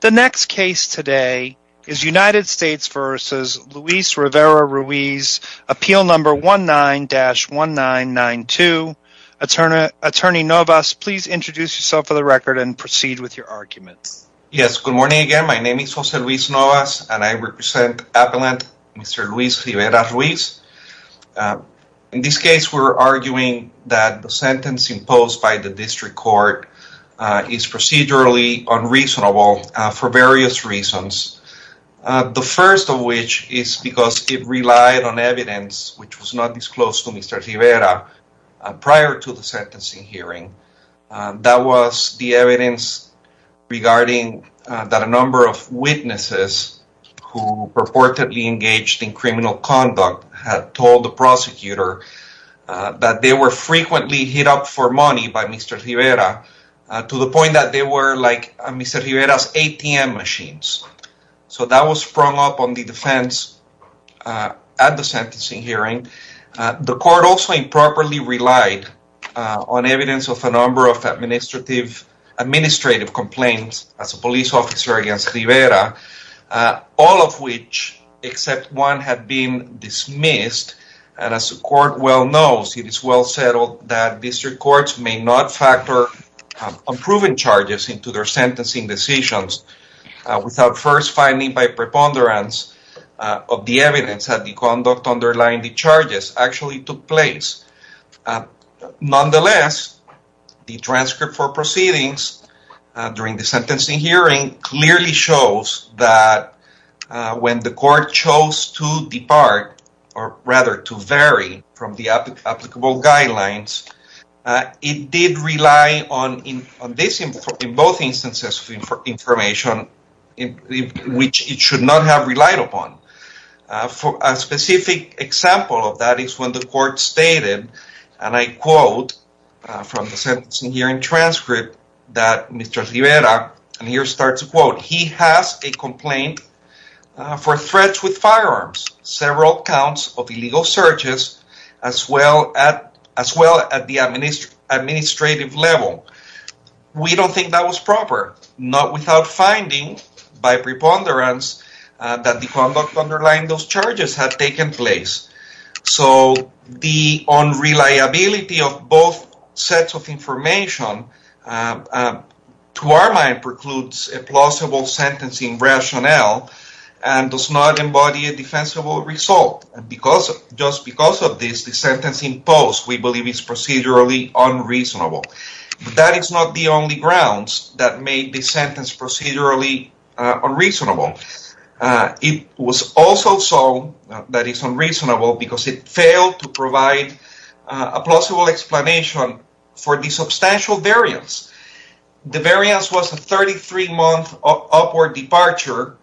The next case today is United States v. Luis Rivera-Ruiz, appeal number 19-1992. Attorney Novas, please introduce yourself for the record and proceed with your argument. Yes, good morning again. My name is Jose Luis Novas and I represent Appellant Mr. Luis Rivera-Ruiz. In this case, we're arguing that the sentence imposed by the district court is procedurally unreasonable for various reasons. The first of which is because it relied on evidence which was not disclosed to Mr. Rivera prior to the sentencing hearing. That was the evidence regarding that a number of witnesses who purportedly engaged in criminal conduct had told the prosecutor that they were frequently hit up for money by Mr. Rivera to the point that they were like Mr. Rivera's ATM machines. So that was sprung up on the defense at the sentencing hearing. The court also improperly relied on evidence of a number of administrative complaints as a police officer against Rivera, all of which except one had been dismissed. And as the court well knows, it is well settled that district courts may not factor unproven charges into their sentencing decisions without first finding by preponderance of the evidence that the conduct underlying the charges actually took place. Nonetheless, the transcript for proceedings during the sentencing hearing clearly shows that when the court chose to depart, or rather to vary from the applicable guidelines, it did rely on both instances of information which it should not have relied upon. A specific example of that is when the court stated, and I quote from the sentencing hearing transcript, that Mr. Rivera, and here starts a quote, he has a complaint for threats with firearms, several counts of illegal searches, as well at the administrative level. We don't think that was proper, not without finding by preponderance that the conduct underlying those charges had taken place. So the unreliability of both sets of information to our mind precludes a plausible sentencing rationale and does not embody a defensible result. And because, just because of this, the sentencing post we believe is procedurally unreasonable. But that is not the only grounds that made this sentence procedurally unreasonable. It was also so that it's unreasonable because it failed to provide a plausible explanation for the substantial variance. The variance was a 33-month upward departure,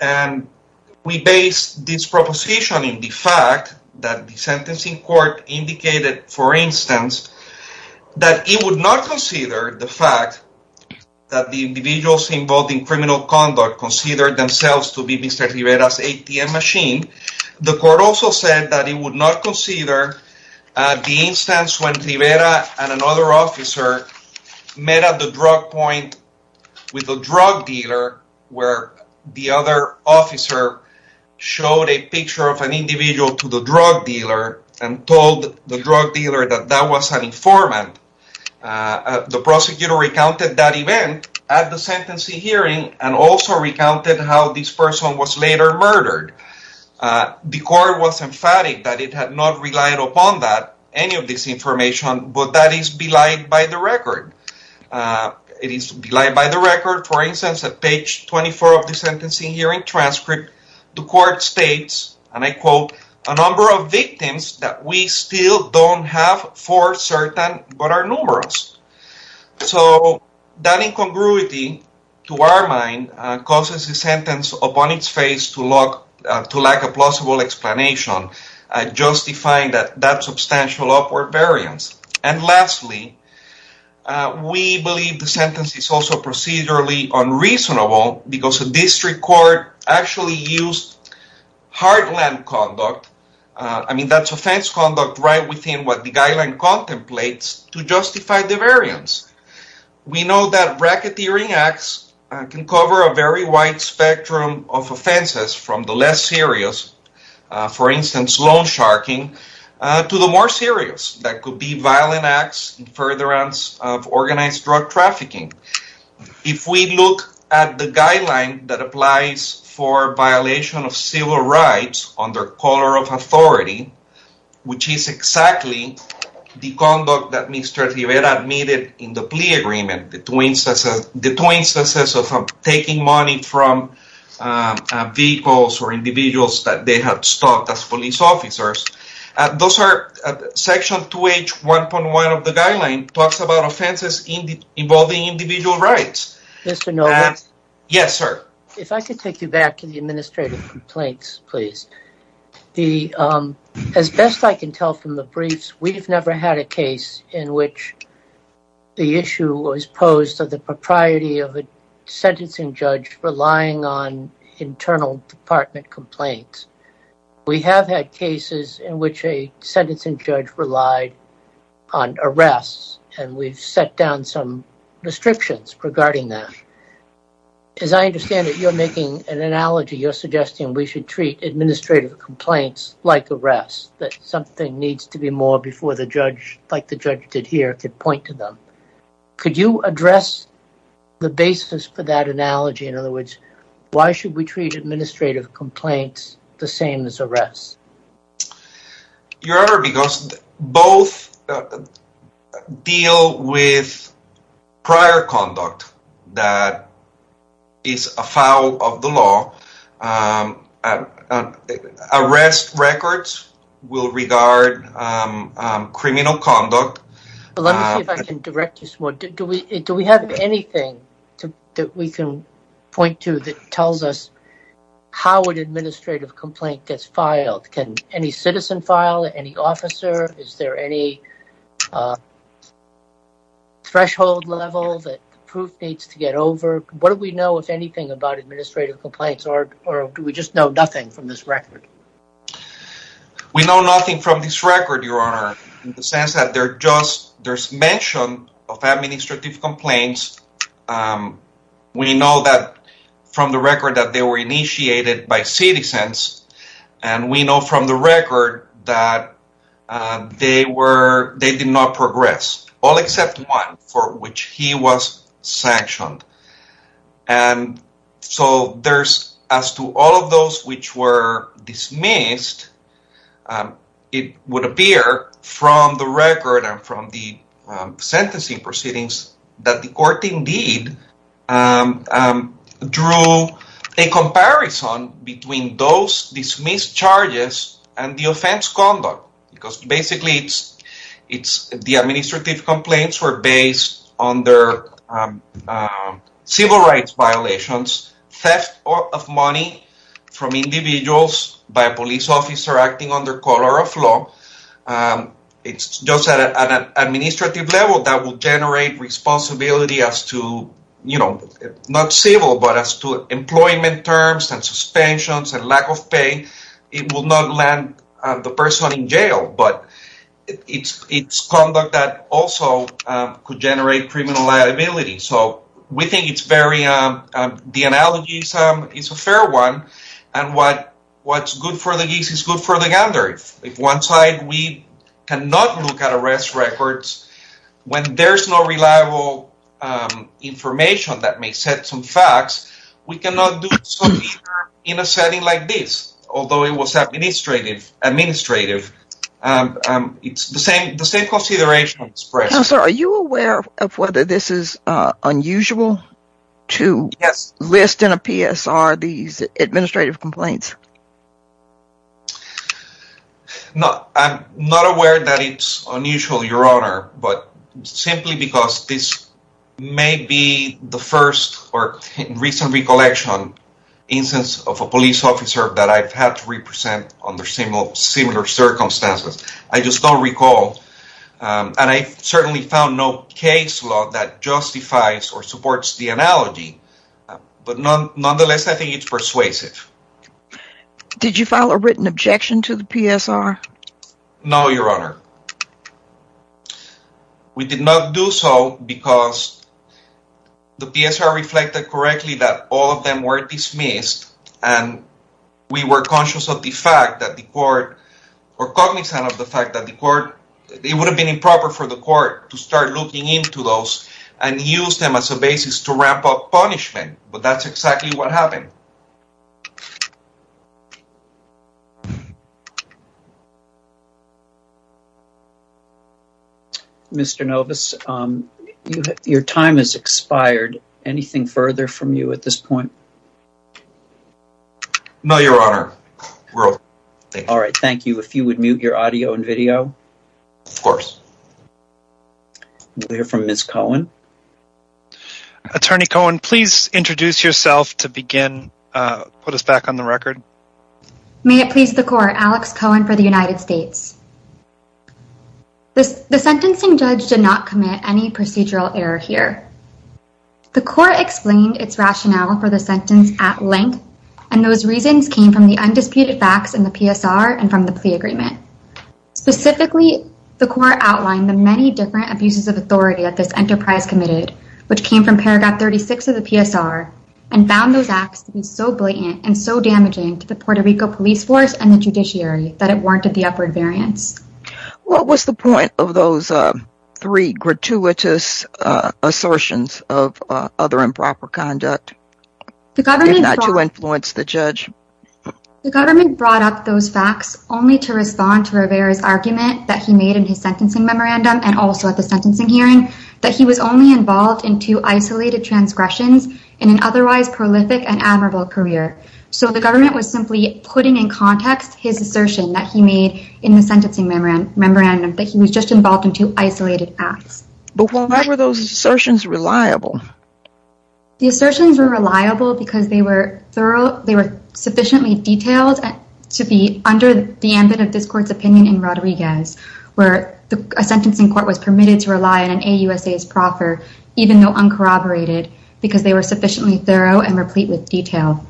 and we base this proposition in the fact that the sentencing court indicated, for instance, that it would not consider the fact that the individuals involved in criminal conduct considered themselves to be Mr. Rivera's ATM machine. The court also said that it would not consider the instance when Rivera and another officer met at the drug point with a drug dealer, where the other officer showed a picture of an individual to the drug dealer and told the drug dealer that that was an informant. The prosecutor recounted that event at the sentencing hearing and also recounted how this person was later murdered. The court was emphatic that it had not relied upon that, any of this information, but that is belied by the record. It is belied by the record, for instance, at page 24 of the sentencing hearing transcript, the court states, and I quote, a number of victims that we still don't have for certain, but are numerous. So that incongruity, to our mind, causes the sentence upon its face to lack a plausible explanation, justifying that substantial upward variance. And lastly, uh, we believe the sentence is also procedurally unreasonable because the district court actually used heartland conduct. Uh, I mean, that's offense conduct right within what the guideline contemplates to justify the variance. We know that racketeering acts can cover a very wide spectrum of offenses from the less serious, uh, for instance, loan sharking, uh, to the more serious that could be violent acts in furtherance of organized drug trafficking. If we look at the guideline that applies for violation of civil rights under color of authority, which is exactly the conduct that Mr. Rivera admitted in the plea agreement, the two instances of taking money from, um, vehicles or individuals that they have stopped as police officers. Uh, those are section 2H 1.1 of the guideline talks about offenses in the involving individual rights. Mr. Novak? Yes, sir. If I could take you back to the administrative complaints, please. The, um, as best I can tell from the briefs, we've never had a case in which the issue was posed of the propriety of a sentencing judge relying on internal department complaints. We have had cases in which a sentencing judge relied on arrests, and we've set down some restrictions regarding that. As I understand it, you're making an analogy. You're suggesting we should treat administrative complaints like arrests, that something needs to be more before the judge, like the judge did here, could point to them. Could you address the basis for that analogy? In other words, why should we treat administrative complaints the same as arrests? Your Honor, because both deal with prior conduct that is a foul of the law. Um, uh, uh, arrest records will regard, um, um, criminal conduct. Let me see if I can direct you some more. Do we, do we have anything that we can point to that tells us how an administrative complaint gets filed? Can any citizen file? Any officer? Is there any, uh, threshold level that the proof needs to get over? What do we know, if anything, about administrative complaints, or do we just know nothing from this record, Your Honor, in the sense that they're just, there's mention of administrative complaints. Um, we know that from the record that they were initiated by citizens, and we know from the record that, uh, they were, they did not progress, all except one for which he was sanctioned. And so there's, as to all of those which were dismissed, um, it would appear from the record and from the, um, sentencing proceedings that the court indeed, um, um, drew a comparison between those dismissed charges and the offense conduct, because basically it's, it's the administrative complaints were based on their, um, um, civil rights violations, theft of money from individuals by a police officer acting under color of law. Um, it's just at an administrative level that will generate responsibility as to, you know, not civil, but as to employment terms and suspensions and lack of pay, it will not land the person in jail, but it's, it's conduct that also, um, could generate criminal liability. So we think it's very, um, um, the analogy is, um, is a fair one. And what, what's good for the geeks is good for the gander. If, if one side, we cannot look at arrest records when there's no reliable, um, information that may set some facts, we cannot do so in a setting like this, although it was administrative, administrative, um, um, it's the same, the same consideration. Counselor, are you aware of whether this is, uh, unusual to list in a PSR, these administrative complaints? No, I'm not aware that it's unusual, Your Honor, but simply because this may be the first or recent recollection instance of a police officer that I've had to represent under similar circumstances. I just don't recall. Um, and I certainly found no case law that justifies or supports the analogy, but nonetheless, I think it's persuasive. Did you file a written objection to the PSR? No, Your Honor. We did not do so because the PSR reflected correctly that all of them were dismissed and we were conscious of the fact that the court or cognizant of the fact that the court, it would have been improper for the court to start looking into those and use them as a basis to ramp up punishment, but that's exactly what happened. Mr. Novus, um, your time has expired. Anything further from you at this point? No, Your Honor. All right. Thank you. If you would mute your audio and video. Of course. We'll hear from Ms. Cohen. Attorney Cohen, please introduce yourself to begin, uh, put us back on the record. May it please the court, Alex Cohen for the United States. The sentencing judge did not commit any procedural error here. The court explained its rationale for the sentence at length, and those reasons came from the undisputed facts in the PSR and from the plea agreement. Specifically, the court outlined the many different abuses of authority that this enterprise committed, which came from paragraph 36 of the PSR and found those acts to be so blatant and so damaging to the Puerto Rico police force and the judiciary that it warranted the upward variance. What was the point of those, uh, three gratuitous, uh, assertions of, uh, other improper conduct The government brought up those facts only to respond to Rivera's argument that he made in his sentencing memorandum and also at the sentencing hearing that he was only involved in two isolated transgressions in an otherwise prolific and admirable career. So the government was simply putting in context his assertion that he made in the sentencing memorandum that he was just The assertions were reliable because they were thorough, they were sufficiently detailed to be under the ambit of this court's opinion in Rodriguez, where a sentencing court was permitted to rely on an AUSA's proffer, even though uncorroborated, because they were sufficiently thorough and replete with detail.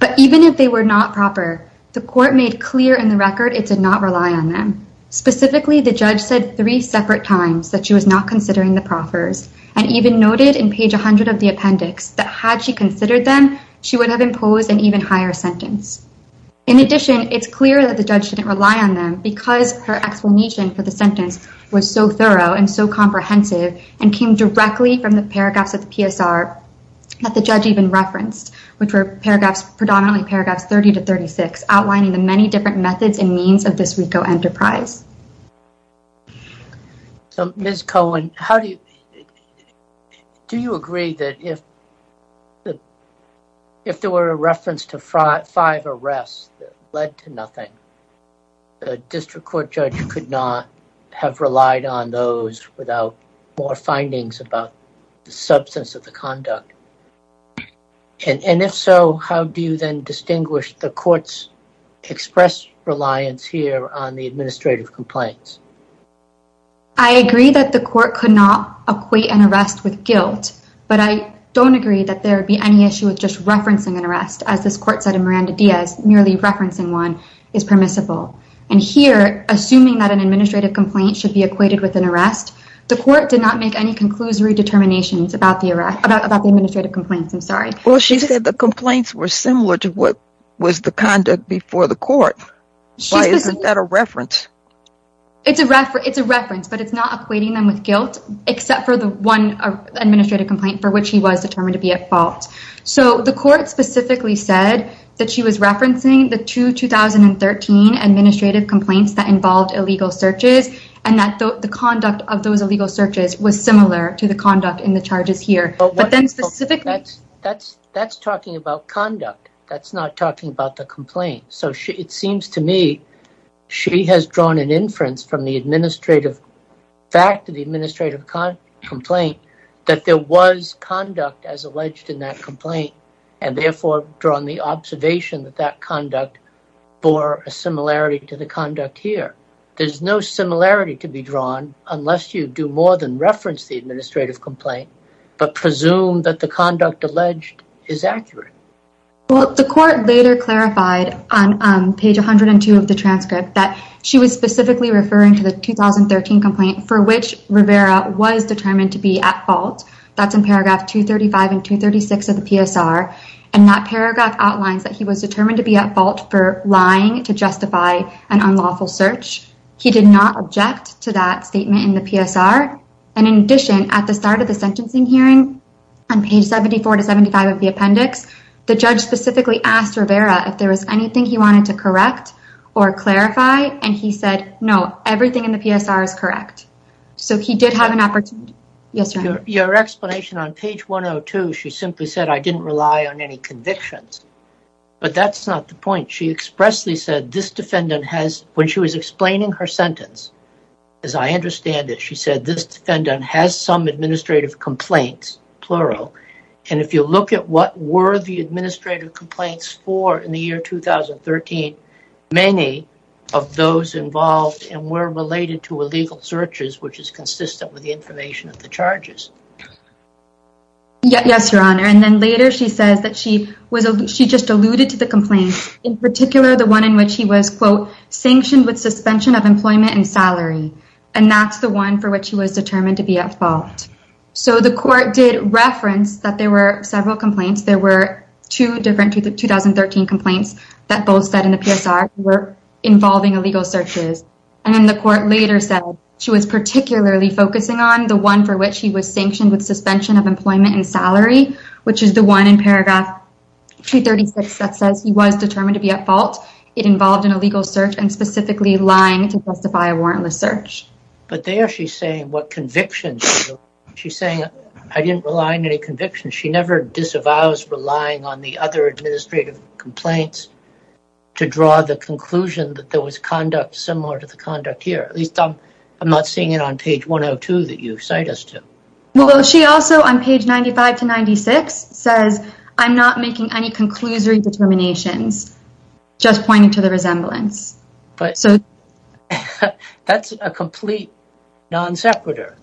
But even if they were not proper, the court made clear in the record it did not rely on them. Specifically, the judge said three separate times that she was not of the appendix, that had she considered them, she would have imposed an even higher sentence. In addition, it's clear that the judge didn't rely on them because her explanation for the sentence was so thorough and so comprehensive and came directly from the paragraphs of the PSR that the judge even referenced, which were paragraphs, predominantly paragraphs 30 to 36, outlining the many different methods and means of this RICO enterprise. So, Ms. Cohen, how do you, do you agree that if there were a reference to five arrests that led to nothing, the district court judge could not have relied on those without more findings about the substance of the conduct? And if so, how do you then distinguish the court's reliance here on the administrative complaints? I agree that the court could not equate an arrest with guilt, but I don't agree that there would be any issue with just referencing an arrest, as this court said in Miranda Diaz, merely referencing one is permissible. And here, assuming that an administrative complaint should be equated with an arrest, the court did not make any conclusory determinations about the arrest, about the administrative complaints, I'm sorry. Well, she said the complaints were similar to what was the conduct before the court. Why isn't that a reference? It's a reference, but it's not equating them with guilt, except for the one administrative complaint for which he was determined to be at fault. So, the court specifically said that she was referencing the two 2013 administrative complaints that involved illegal searches and that the conduct of those illegal searches was similar to the conduct in the charges here. But then specifically... That's talking about conduct. That's not talking about the complaint. So, it seems to me, she has drawn an inference from the administrative fact of the administrative complaint, that there was conduct as alleged in that complaint, and therefore drawn the observation that that conduct bore a similarity to the conduct here. There's no similarity to be drawn, unless you do more than reference the administrative complaint, but presume that the conduct alleged is accurate. Well, the court later clarified on page 102 of the transcript that she was specifically referring to the 2013 complaint for which Rivera was determined to be at fault. That's in paragraph 235 and 236 of the PSR. And that paragraph outlines that he was determined to be at fault for to justify an unlawful search. He did not object to that statement in the PSR. And in addition, at the start of the sentencing hearing, on page 74 to 75 of the appendix, the judge specifically asked Rivera if there was anything he wanted to correct or clarify. And he said, no, everything in the PSR is correct. So, he did have an opportunity. Yes, sir. Your explanation on page 102, she simply said, I didn't rely on any convictions. But that's not the point. She expressly said, this defendant has, when she was explaining her sentence, as I understand it, she said, this defendant has some administrative complaints, plural. And if you look at what were the administrative complaints for in the year 2013, many of those involved and were related to illegal searches, which is consistent with the information of the charges. Yes, your honor. And then later, she says that she just alluded to the complaints, in particular, the one in which he was, quote, sanctioned with suspension of employment and salary. And that's the one for which he was determined to be at fault. So, the court did reference that there were several complaints. There were two different 2013 complaints that both said in the PSR were involving illegal searches. And then the court later said she was particularly focusing on the one for which he was sanctioned suspension of employment and salary, which is the one in paragraph 236 that says he was determined to be at fault. It involved an illegal search and specifically lying to justify a warrantless search. But there she's saying what convictions, she's saying, I didn't rely on any convictions. She never disavows relying on the other administrative complaints to draw the conclusion that there was conduct similar to the conduct here. At least I'm not seeing it on page 102 that you cite us to. Well, she also on page 95 to 96 says, I'm not making any conclusory determinations, just pointing to the resemblance. But so, that's a complete non-separator.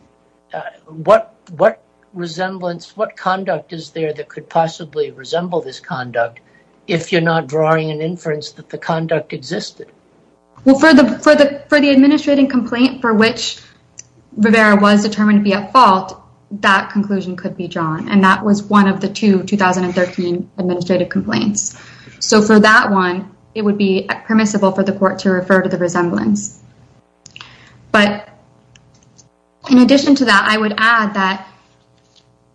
What, what resemblance, what conduct is there that could possibly resemble this conduct if you're not drawing an inference that the conduct existed? Well, for the, for the, for the administrating complaint for which Rivera was determined to be at fault, that conclusion could be drawn. And that was one of the two 2013 administrative complaints. So for that one, it would be permissible for the court to refer to the resemblance. But in addition to that, I would add that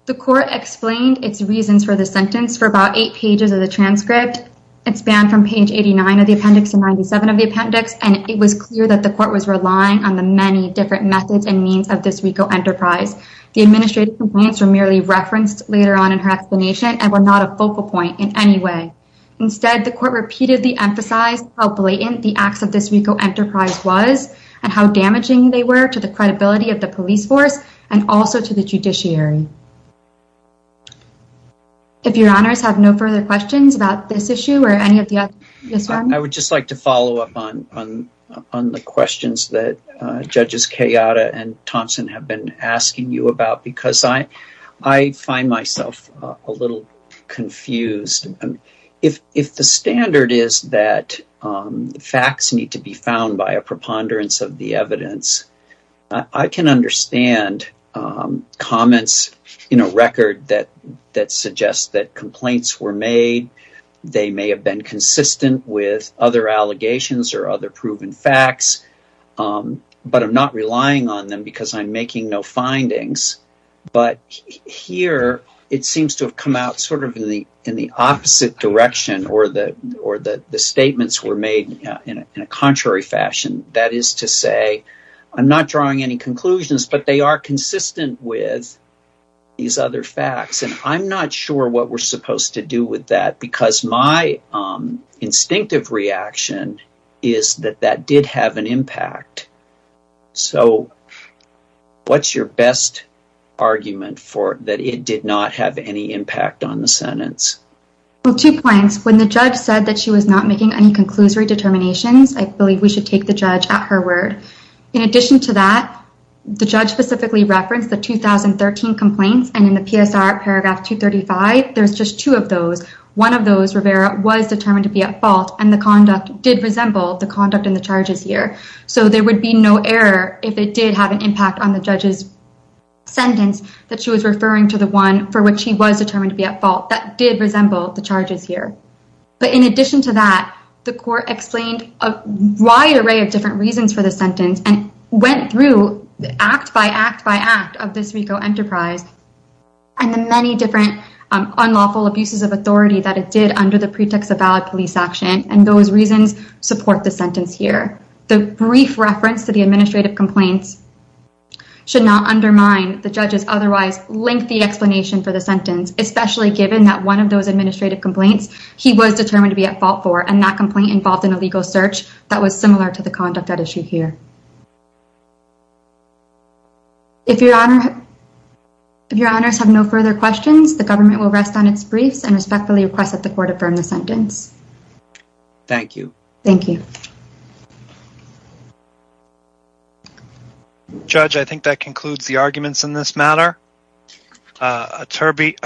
the court explained its reasons for the sentence for about eight pages of the transcript. It's banned from page 89 of the appendix and 97 of the appendix. And it was clear that the court was relying on the many different methods and means of this RICO enterprise. The administrative complaints were merely referenced later on in her explanation and were not a focal point in any way. Instead, the court repeatedly emphasized how blatant the acts of this RICO enterprise was and how damaging they were to the credibility of the police force and also to the judiciary. If your honors have no further questions about this issue or any of the others. I would just like to follow up on, on, on the questions that judges Kayada and Thompson have been asking you about, because I, I find myself a little confused. If, if the standard is that facts need to be found by a preponderance of the may have been consistent with other allegations or other proven facts, but I'm not relying on them because I'm making no findings. But here it seems to have come out sort of in the, in the opposite direction or the, or the, the statements were made in a contrary fashion. That is to say, I'm not drawing any conclusions, but they are consistent with these other facts. And I'm not what we're supposed to do with that because my instinctive reaction is that that did have an impact. So what's your best argument for that? It did not have any impact on the sentence. Well, two points when the judge said that she was not making any conclusory determinations, I believe we should take the judge at her word. In addition to that, the judge specifically referenced the 2013 complaints and in the PSR paragraph 235, there's just two of those. One of those, Rivera was determined to be at fault and the conduct did resemble the conduct in the charges here. So there would be no error if it did have an impact on the judge's sentence that she was referring to the one for which he was determined to be at fault that did resemble the charges here. But in addition to that, the court explained a wide array of different reasons for the sentence and went through act by act by act of this RICO enterprise and the many different unlawful abuses of authority that it did under the pretext of valid police action. And those reasons support the sentence here. The brief reference to the administrative complaints should not undermine the judge's otherwise lengthy explanation for the sentence, especially given that one of those administrative complaints he was determined to be at fault for and that he was determined to be at fault for. So that's what you should hear. If your honor, if your honors have no further questions, the government will rest on its briefs and respectfully request that the court affirm the sentence. Thank you. Thank you. Judge, I think that concludes the arguments in this matter. Attorney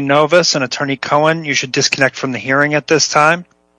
Novus and Attorney Cohen, you should disconnect from the hearing at this time.